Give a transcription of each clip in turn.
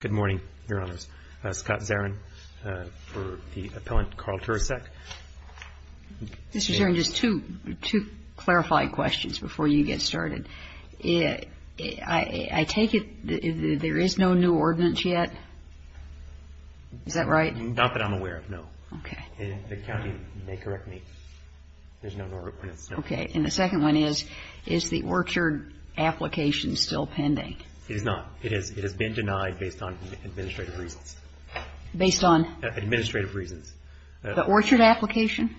Good morning, Your Honors. Scott Zarin for the appellant Carl Turecek. Mr. Zarin, just two clarified questions before you get started. I take it there is no new ordinance yet? Is that right? Not that I'm aware of, no. The county may correct me. There's no new ordinance, no. Okay. And the second one is, is the orchard application still pending? It is not. It has been denied based on administrative reasons. Based on? Administrative reasons. The orchard application?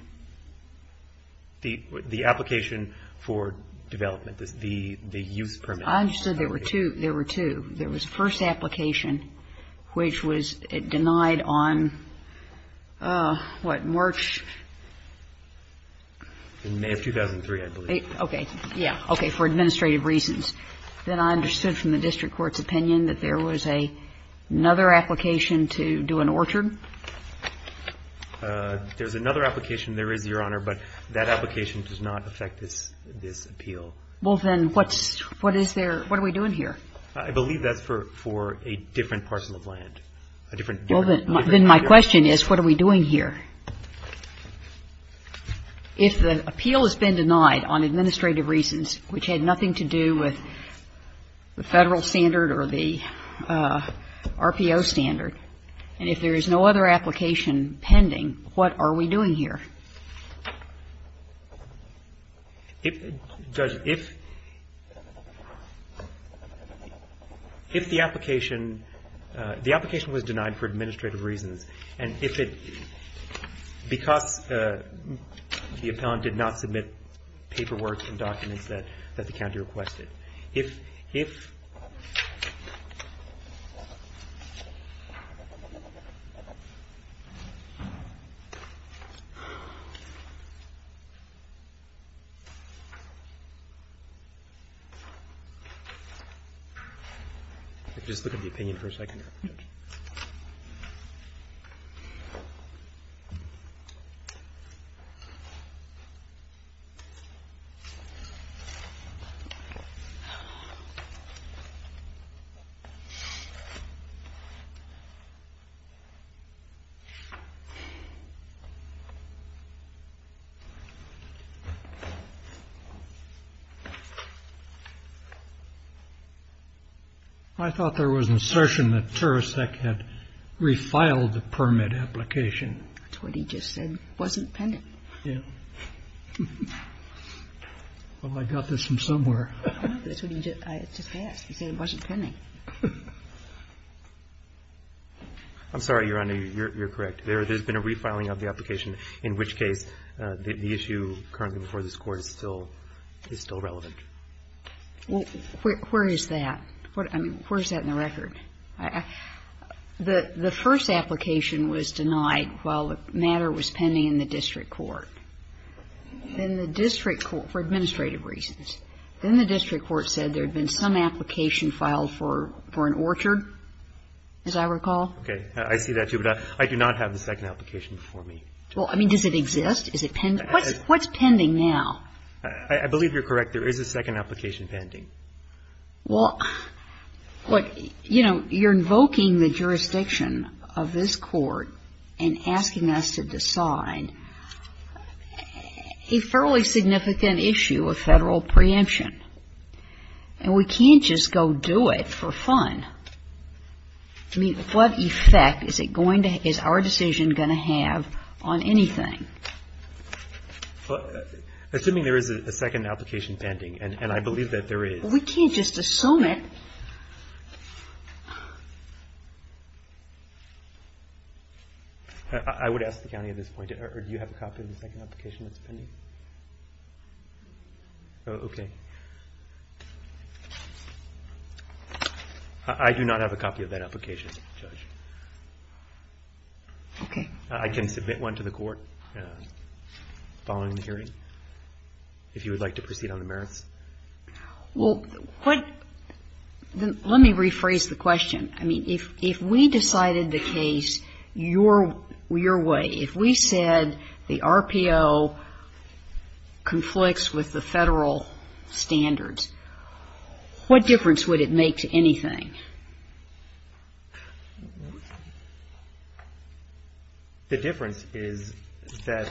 The application for development, the use permit. I understood there were two. There were two. There was the first application, which was denied on, what, March? May of 2003, I believe. Okay. Yeah. Okay. For administrative reasons. Then I understood from the district court's opinion that there was another application to do an orchard? There's another application there is, Your Honor, but that application does not affect this appeal. Well, then, what's, what is there, what are we doing here? I believe that's for a different parcel of land. Well, then my question is, what are we doing here? If the appeal has been denied on administrative reasons, which had nothing to do with the Federal standard or the RPO standard, and if there is no other application pending, what are we doing here? If, Judge, if the application, the application was denied for administrative reasons, and if it, because the appellant did not submit paperwork and documents that the county requested, if, if, if, if, if, if, if, if, if, if, if, if, if, if, if, if the appeal is denied on administrative reasons, I thought there was an assertion that Teresek had refiled the permit application. That's what he just said, wasn't pending. I'm sorry, Your Honor, you're correct. There has been a refiling of the application, in which case the issue currently before this Court is still, is still relevant. Well, where is that? The first application was denied while the matter was pending in the district court. Then the district court, for administrative reasons, then the district court said there had been some application filed for, for an orchard, as I recall. Okay. I see that, too, but I do not have the second application before me. Well, I mean, does it exist? Is it pending? What's pending now? I believe you're correct. There is a second application pending. Well, look, you know, you're invoking the jurisdiction of this Court and asking us to decide a fairly significant issue of Federal preemption. And we can't just go do it for fun. I mean, what effect is it going to, is our decision going to have on anything? Assuming there is a second application pending, and I believe that there is. Well, we can't just assume it. I would ask the County at this point, or do you have a copy of the second application that's pending? Okay. I do not have a copy of that application, Judge. Okay. I can submit one to the Court. Following the hearing, if you would like to proceed on the merits. Well, let me rephrase the question. I mean, if we decided the case your way, if we said the RPO conflicts with the Federal standards, what difference would it make to anything? The difference is that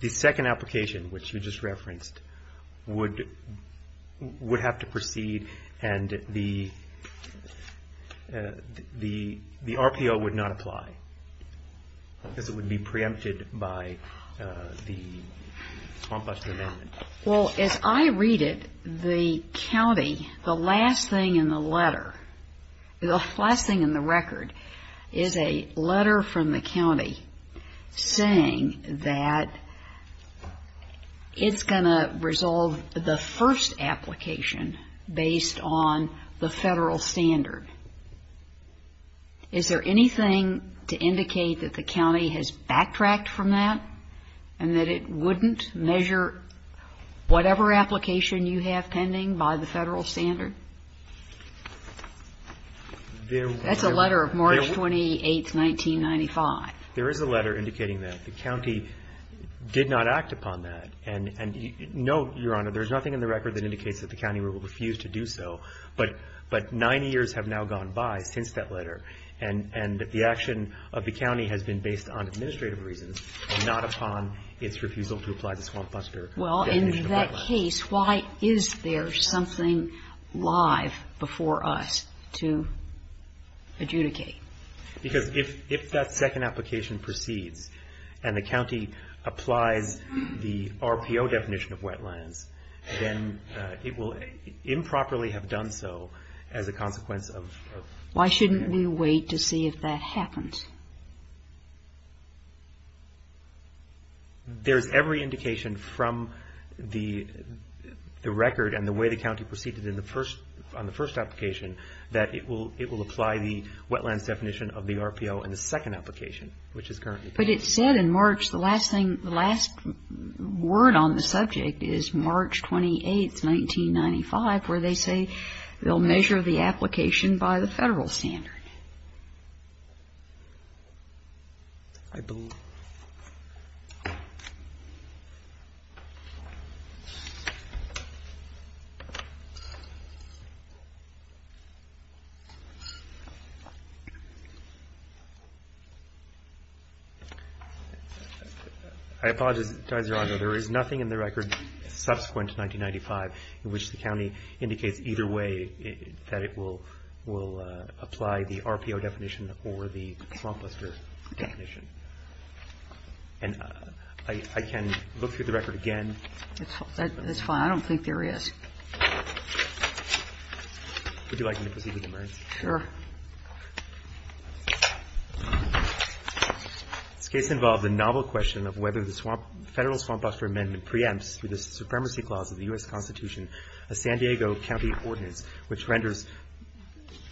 the second application, which you just referenced, would have to proceed, and the RPO would not apply, because it would be preempted by the conflicts of the amendment. Well, as I read it, the County, the last thing in the letter, the last thing in the record, is a letter from the County saying that it's going to resolve the first application based on the Federal standard. Is there anything to indicate that the County has backtracked from that and that it wouldn't measure whatever application you have pending by the Federal standard? That's a letter of March 28, 1995. There is a letter indicating that. The County did not act upon that. And no, Your Honor, there's nothing in the record that indicates that the County will refuse to do so, but nine years have now gone by since that letter and that the action of the County has been based on administrative reasons and not upon its refusal to apply the swamp buster definition of that letter. Well, in that case, why is there something live before us to adjudicate? Because if that second application proceeds and the County applies the RPO definition of wetlands, then it will improperly have done so as a consequence of the second application. Why shouldn't we wait to see if that happens? There's every indication from the record and the way the County proceeded on the first application that it will apply the wetlands definition of the RPO in the second application, which is currently pending. But it said in March, the last thing, the last word on the subject is March 28, 1995, where they say they'll measure the application by the Federal standard. I apologize, Your Honor, there is nothing in the record subsequent to 1995 in which the County indicates either way that it will apply the RPO definition or the swamp buster definition. And I can look through the record again. That's fine. I don't think there is. Would you like me to proceed with the merits? Sure. This case involved the novel question of whether the federal swamp buster amendment preempts, through the supremacy clause of the U.S. Constitution, a San Diego County ordinance which renders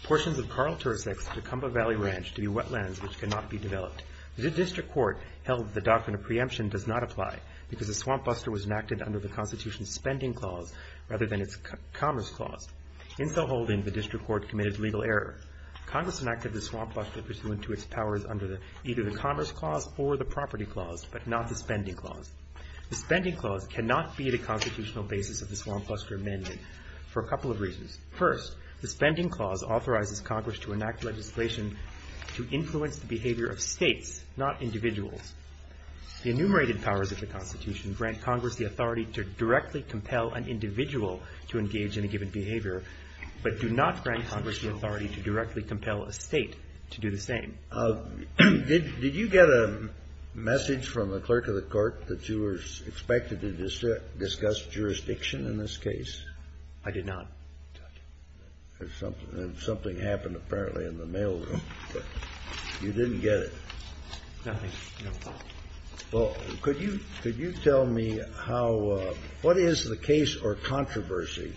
portions of Carl Tersex and the Cumbah Valley Ranch to be wetlands which cannot be developed. The district court held the doctrine of preemption does not apply because the swamp buster was enacted under the Constitution's spending clause, rather than its commerce clause. In so holding, the district court committed legal error. Congress enacted the swamp buster pursuant to its powers under either the commerce clause or the property clause, but not the spending clause. The spending clause cannot be the constitutional basis of the swamp buster amendment for a couple of reasons. First, the spending clause authorizes Congress to enact legislation to influence the behavior of states, not individuals. The enumerated powers of the Constitution grant Congress the authority to directly compel an individual to engage in a given behavior, but do not grant Congress the authority to directly compel a state to do the same. Did you get a message from the clerk of the court that you were expected to discuss jurisdiction in this case? I did not. And something happened, apparently, in the mailroom. You didn't get it. Nothing. Well, could you tell me how, what is the case or controversy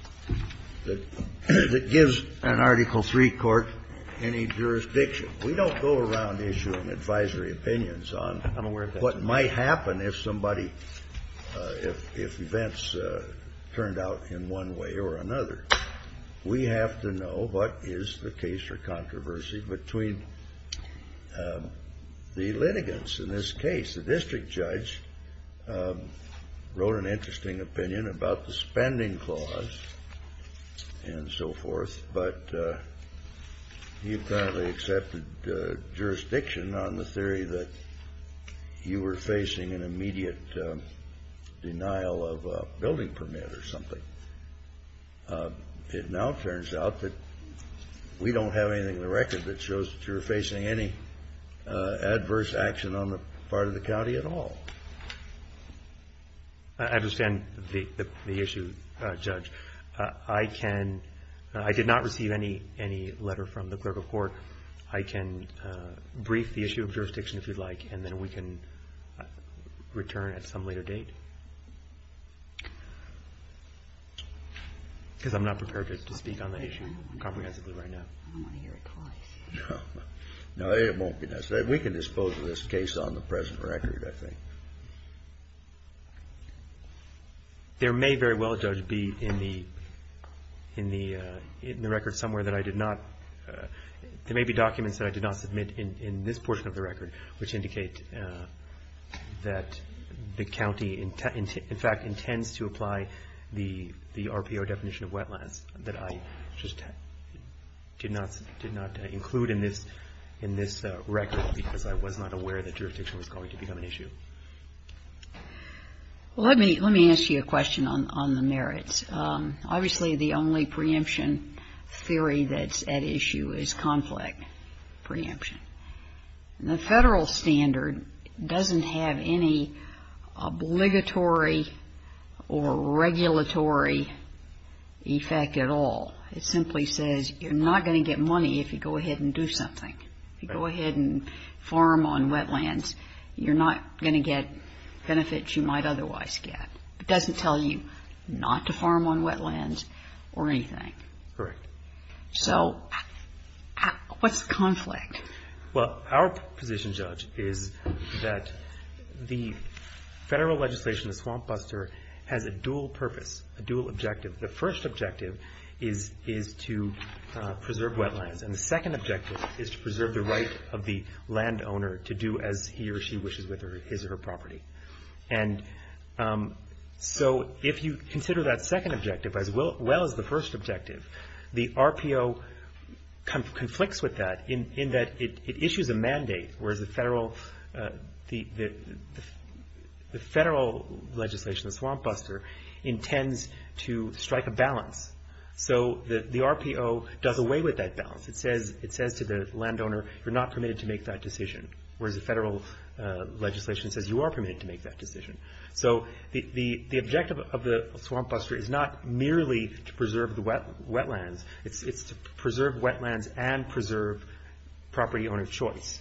that gives an Article III court any jurisdiction? We don't go around issuing advisory opinions on what might happen if somebody, if events turned out in one way or another. We have to know what is the case or controversy between the litigants in this case. The district judge wrote an interesting opinion about the spending clause and so forth, but he apparently accepted jurisdiction on the theory that you were facing an immediate denial of a building permit or something. It now turns out that we don't have anything in the record that shows that you were facing any adverse action on the part of the county at all. I understand the issue, Judge. I can, I did not receive any letter from the clerk of court. I can brief the issue of jurisdiction if you'd like, and then we can return at some later date. Because I'm not prepared to speak on the issue comprehensively right now. I don't want to hear it twice. No, it won't be necessary. We can dispose of this case on the present record, I think. There may very well, Judge, be in the record somewhere that I did not, there may be documents that I did not submit in this portion of the record which indicate that the county in fact intends to apply the RPO definition of wetlands that I just did not include in this record because I was not aware that jurisdiction was going to become an issue. Well, let me ask you a question on the merits. Obviously, the only preemption theory that's at issue is conflict preemption. The federal standard doesn't have any obligatory or regulatory effect at all. It simply says you're not going to get money if you go ahead and do something. If you go ahead and farm on wetlands, you're not going to get benefits you might otherwise get. It doesn't tell you not to farm on wetlands or anything. Correct. So, what's conflict? Well, our position, Judge, is that the federal legislation, the swamp buster, has a dual purpose, a dual objective. The first objective is to preserve wetlands. And the second objective is to preserve the right of the landowner to do as he or she wishes with his or her property. And so, if you consider that second objective as well as the first objective, the RPO conflicts with that in that it issues a mandate, whereas the federal legislation, the swamp buster, intends to strike a balance. So, the RPO does away with that balance. It says to the landowner, you're not permitted to make that decision, whereas the federal legislation says you are permitted to make that decision. So, the objective of the swamp buster is not merely to preserve the wetlands. It's to preserve wetlands and preserve property owner choice.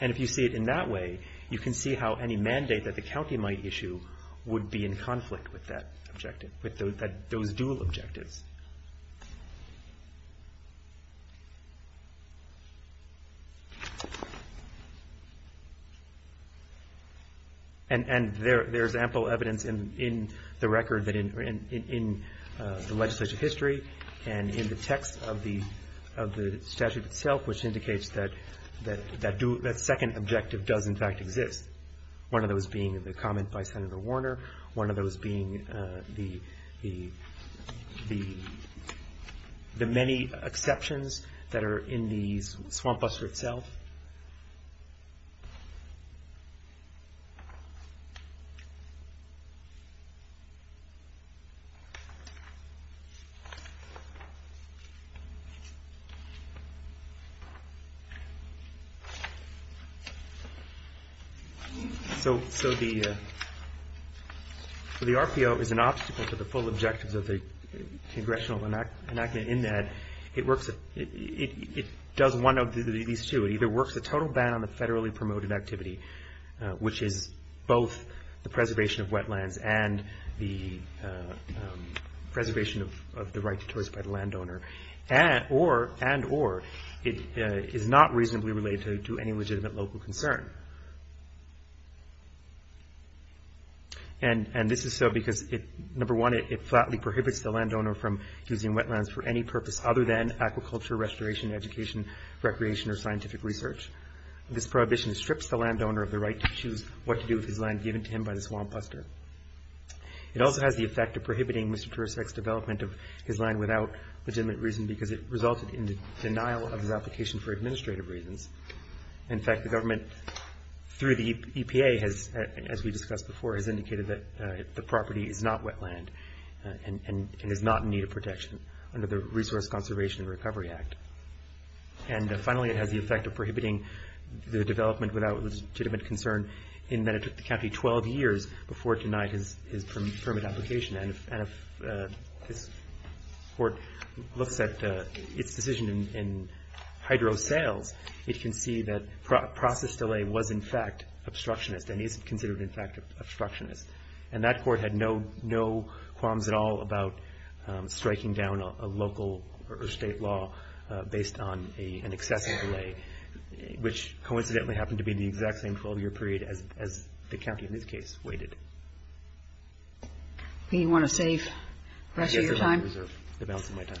And if you see it in that way, you can see how any mandate that the county might issue would be in conflict with that objective, with those dual objectives. And there's ample evidence in the record that in the legislative history and in the text of the statute itself, which indicates that that second objective does, in fact, exist. One of those being the comment by Senator Warner. One of those being the many exceptions that are in the swamp buster itself. So, the RPO is an obstacle to the full objectives of the congressional enactment in that it does one of these two. It either works a total ban on the federally promoted activity, which is both the preservation of wetlands and the preservation of the right to choice by the landowner, and or it is not reasonably related to any legitimate local concern. And this is so because, number one, it flatly prohibits the landowner from using wetlands for any purpose other than aquaculture, restoration, education, recreation, or scientific research. This prohibition strips the landowner of the right to choose what to do with his land given to him by the swamp buster. It also has the effect of prohibiting Mr. Teresek's development of his land without legitimate reason because it resulted in the denial of his application for administrative reasons. In fact, the government, through the EPA, as we discussed before, has indicated that the property is not wetland and is not in need of protection under the Resource Conservation and Recovery Act. And finally, it has the effect of prohibiting the development without legitimate concern in that it took the county 12 years before it denied his permit application. And if this court looks at its decision in Hydro Sales, it can see that process delay was, in fact, obstructionist and is considered, in fact, obstructionist. And that court had no qualms at all about striking down a local or state law based on an excessive delay, which coincidentally happened to be the exact same 12 year period as the county in this case waited. Do you want to save the rest of your time? I reserve the balance of my time.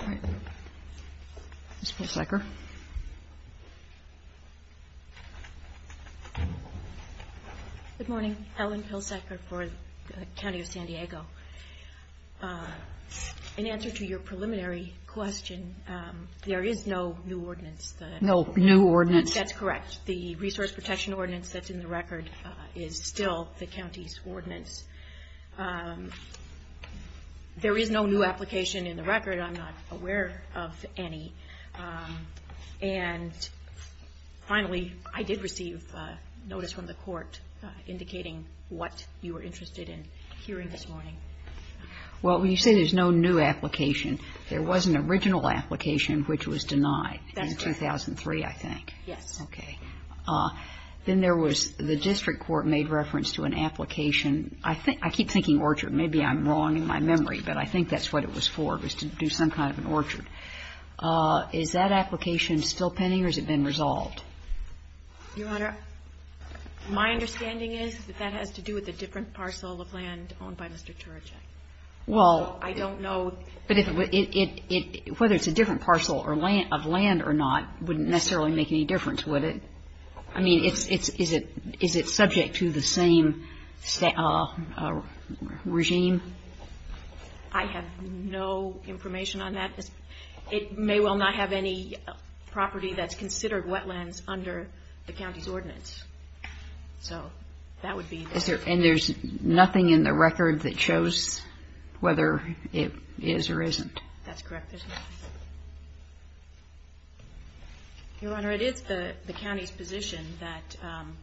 All right. Ms. Pilsaker. Good morning. Ellen Pilsaker for the County of San Diego. In answer to your preliminary question, there is no new ordinance. No new ordinance. That's correct. The Resource Protection Ordinance that's in the record is still the county's ordinance. There is no new application in the record. I'm not aware of any. And finally, I did receive notice from the court indicating what you were interested in hearing this morning. Well, when you say there's no new application, there was an original application which was denied in 2003, I think. That's correct. Yes. Okay. Then there was the district court made reference to an application. I keep thinking orchard. Maybe I'm wrong in my memory, but I think that's what it was for, was to do some kind of an orchard. Is that application still pending or has it been resolved? Your Honor, my understanding is that that has to do with a different parcel of land owned by Mr. Turajan. Well, I don't know. But whether it's a different parcel of land or not wouldn't necessarily make any difference, would it? I mean, is it subject to the same regime? I have no information on that. It may well not have any property that's considered wetlands under the county's ordinance. So that would be the case. And there's nothing in the record that shows whether it is or isn't? That's correct. Your Honor, it is the county's position that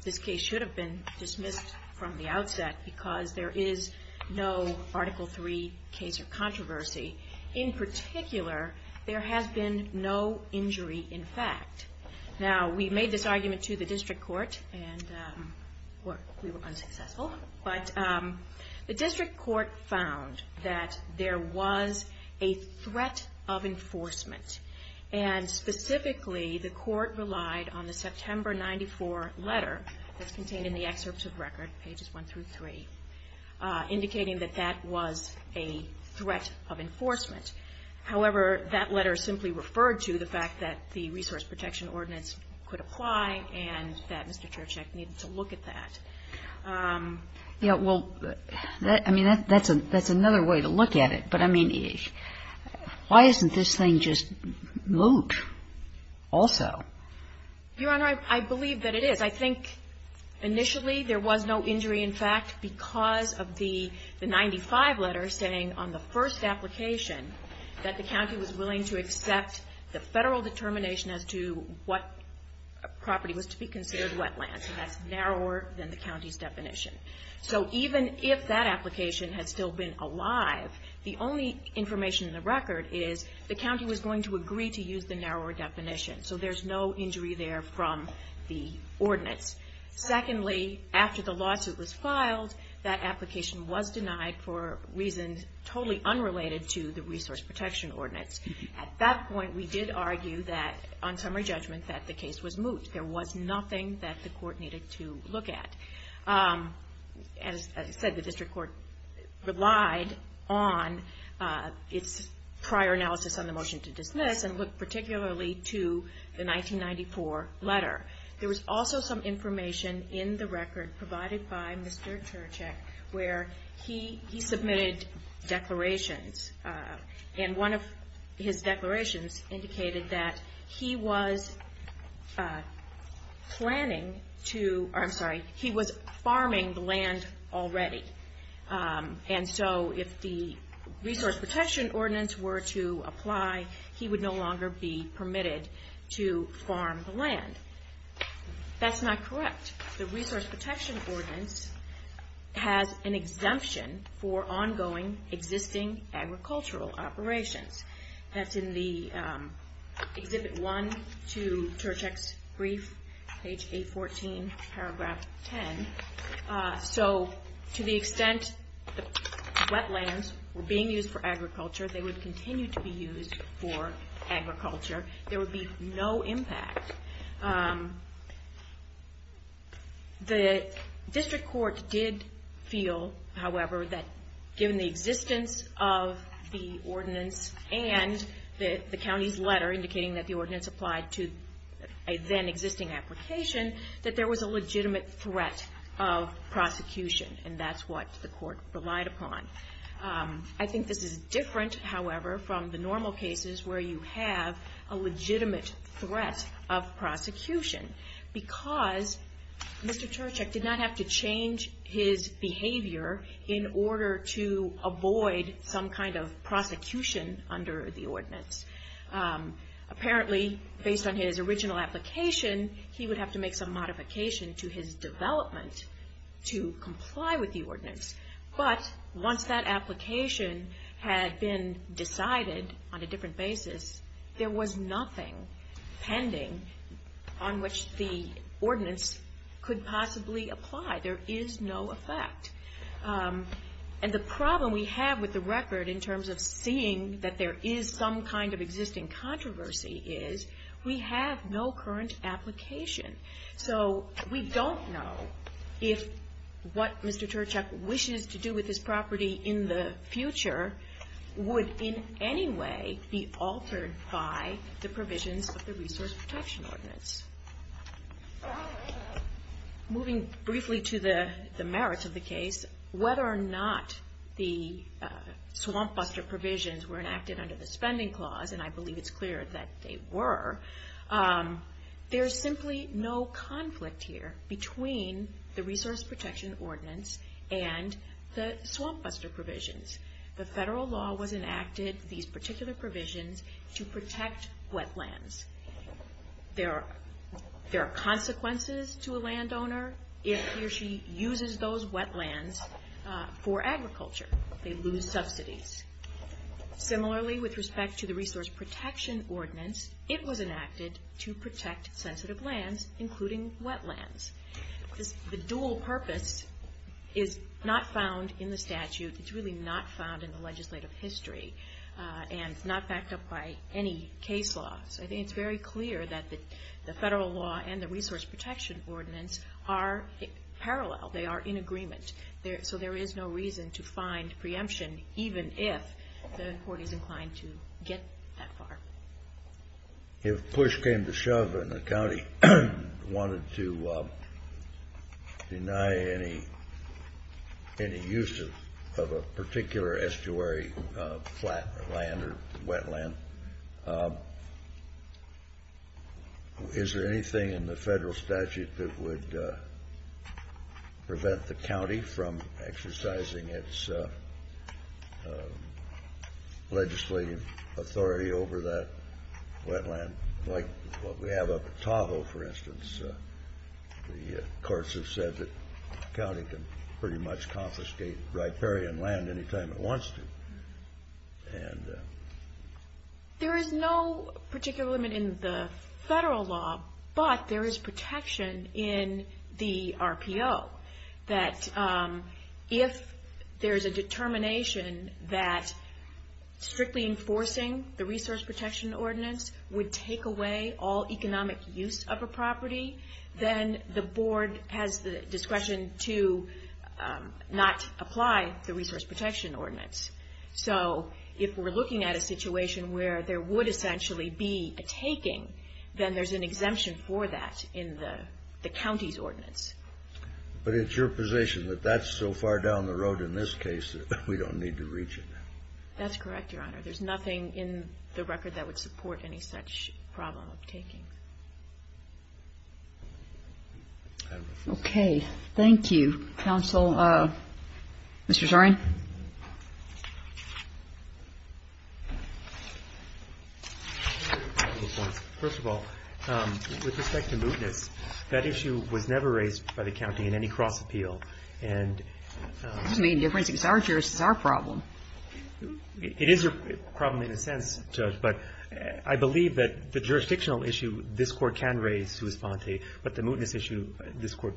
this case should have been dismissed from the outset because there is no Article III case or controversy. In particular, there has been no injury in fact. Now, we made this argument to the district court, and we were unsuccessful. But the district court found that there was a threat of enforcement. And specifically, the court relied on the September 1994 letter that's contained in the excerpt of record, pages 1 through 3, indicating that that was a threat of enforcement. However, that letter simply referred to the fact that the Resource Protection Ordinance could apply and that Mr. Cherchek needed to look at that. Yeah, well, I mean, that's another way to look at it. But I mean, why isn't this thing just moot also? Your Honor, I believe that it is. I think initially there was no injury in fact because of the 95 letter saying on the first application that the county was willing to accept the federal determination as to what property was to be considered wetlands. And that's narrower than the county's definition. So even if that application had still been alive, the only information in the record is the county was going to agree to use the narrower definition. Secondly, after the lawsuit was filed, that application was denied for reasons totally unrelated to the Resource Protection Ordinance. At that point, we did argue that on summary judgment that the case was moot. There was nothing that the court needed to look at. As I said, the district court relied on its prior analysis on the motion to dismiss and looked particularly to the 1994 letter. There was also some information in the record provided by Mr. Terchik where he submitted declarations. And one of his declarations indicated that he was farming the land already. And so if the Resource Protection Ordinance were to apply, he would no longer be permitted to farm the land. That's not correct. The Resource Protection Ordinance has an exemption for ongoing existing agricultural operations. That's in the Exhibit 1 to Terchik's brief, page 814, paragraph 10. So to the extent that wetlands were being used for agriculture, they would continue to be used for agriculture. There would be no impact. The district court did feel, however, that given the existence of the ordinance and the county's letter indicating that the ordinance applied to a then-existing application, that there was a legitimate threat of prosecution, and that's what the court relied upon. I think this is different, however, from the normal cases where you have a legitimate threat of prosecution. Because Mr. Terchik did not have to change his behavior in order to avoid some kind of prosecution under the ordinance. Apparently, based on his original application, he would have to make some modification to his development to comply with the ordinance. But once that application had been decided on a different basis, there was nothing pending on which the ordinance could possibly apply. There is no effect. And the problem we have with the record, in terms of seeing that there is some kind of existing controversy, is we have no current application. So we don't know if what Mr. Terchik wishes to do with this property in the future would in any way be altered by the provisions of the Resource Protection Ordinance. Moving briefly to the merits of the case, whether or not the swamp buster provisions were enacted under the spending clause, and I believe it's clear that they were, there's simply no conflict here between the Resource Protection Ordinance and the swamp buster provisions. The federal law was enacted, these particular provisions, to protect wetlands. There are consequences to a landowner if he or she uses those wetlands for agriculture. They lose subsidies. Similarly, with respect to the Resource Protection Ordinance, it was enacted to protect sensitive lands, including wetlands. The dual purpose is not found in the statute, it's really not found in the legislative history, and it's not backed up by any case law. So I think it's very clear that the federal law and the Resource Protection Ordinance are parallel. They are in agreement. So there is no reason to find preemption, even if the court is inclined to get that far. If push came to shove and the county wanted to deny any use of a particular estuary flat land or wetland, is there anything in the federal statute that would prevent the county from exercising its legislative authority over that wetland? Like what we have up at Tahoe, for instance. The courts have said that the county can pretty much confiscate riparian land anytime it wants to. And... There is no particular limit in the federal law, but there is protection in the RPO, that if there is a determination that strictly enforcing the Resource Protection Ordinance the board has the discretion to not apply the Resource Protection Ordinance. So if we're looking at a situation where there would essentially be a taking, then there's an exemption for that in the county's ordinance. But it's your position that that's so far down the road in this case that we don't need to reach it? That's correct, Your Honor. There's nothing in the record that would support any such problem of taking. Okay. Thank you. Counsel, Mr. Zarin? First of all, with respect to mootness, that issue was never raised by the county in any cross-appeal. That doesn't make a difference. It's our jurisdiction. It's our problem. It is a problem in a sense, Judge, but I believe that the jurisdictional issue this Court can raise, but the mootness issue this Court...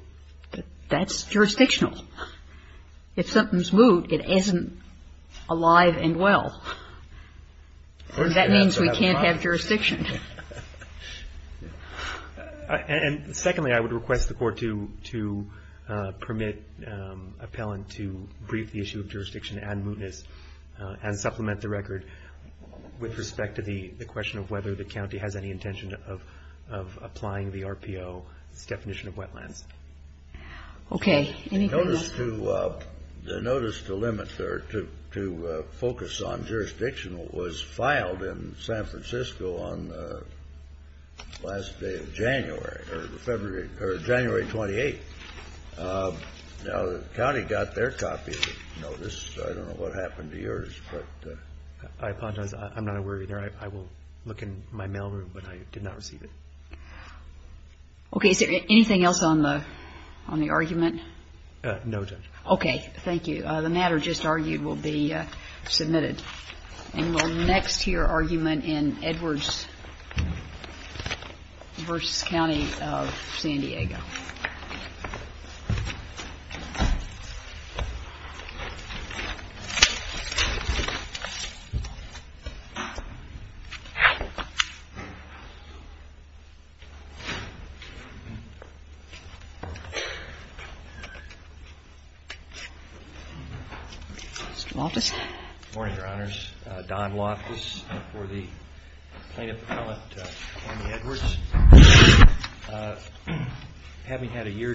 That's jurisdictional. If something's moot, it isn't alive and well. That means we can't have jurisdiction. And secondly, I would request the Court to permit appellant to brief the issue of jurisdiction and mootness and supplement the record with respect to the question of whether the county has any intention of applying the RPO's definition of wetlands. Okay. The notice to limit or to focus on jurisdictional was filed in San Francisco on the last day of January, or January 28th. Now, the county got their copy of the notice. I don't know what happened to yours, but... I apologize. I'm not aware either. I will look in my mail room, but I did not receive it. Okay. Is there anything else on the argument? No, Judge. Okay. Thank you. The matter just argued will be submitted. And we'll next hear argument in Edwards v. County of San Diego. Mr. Loftus. Good morning, Your Honors. Don Loftus for the plaintiff appellant, Amy Edwards. Having had a year...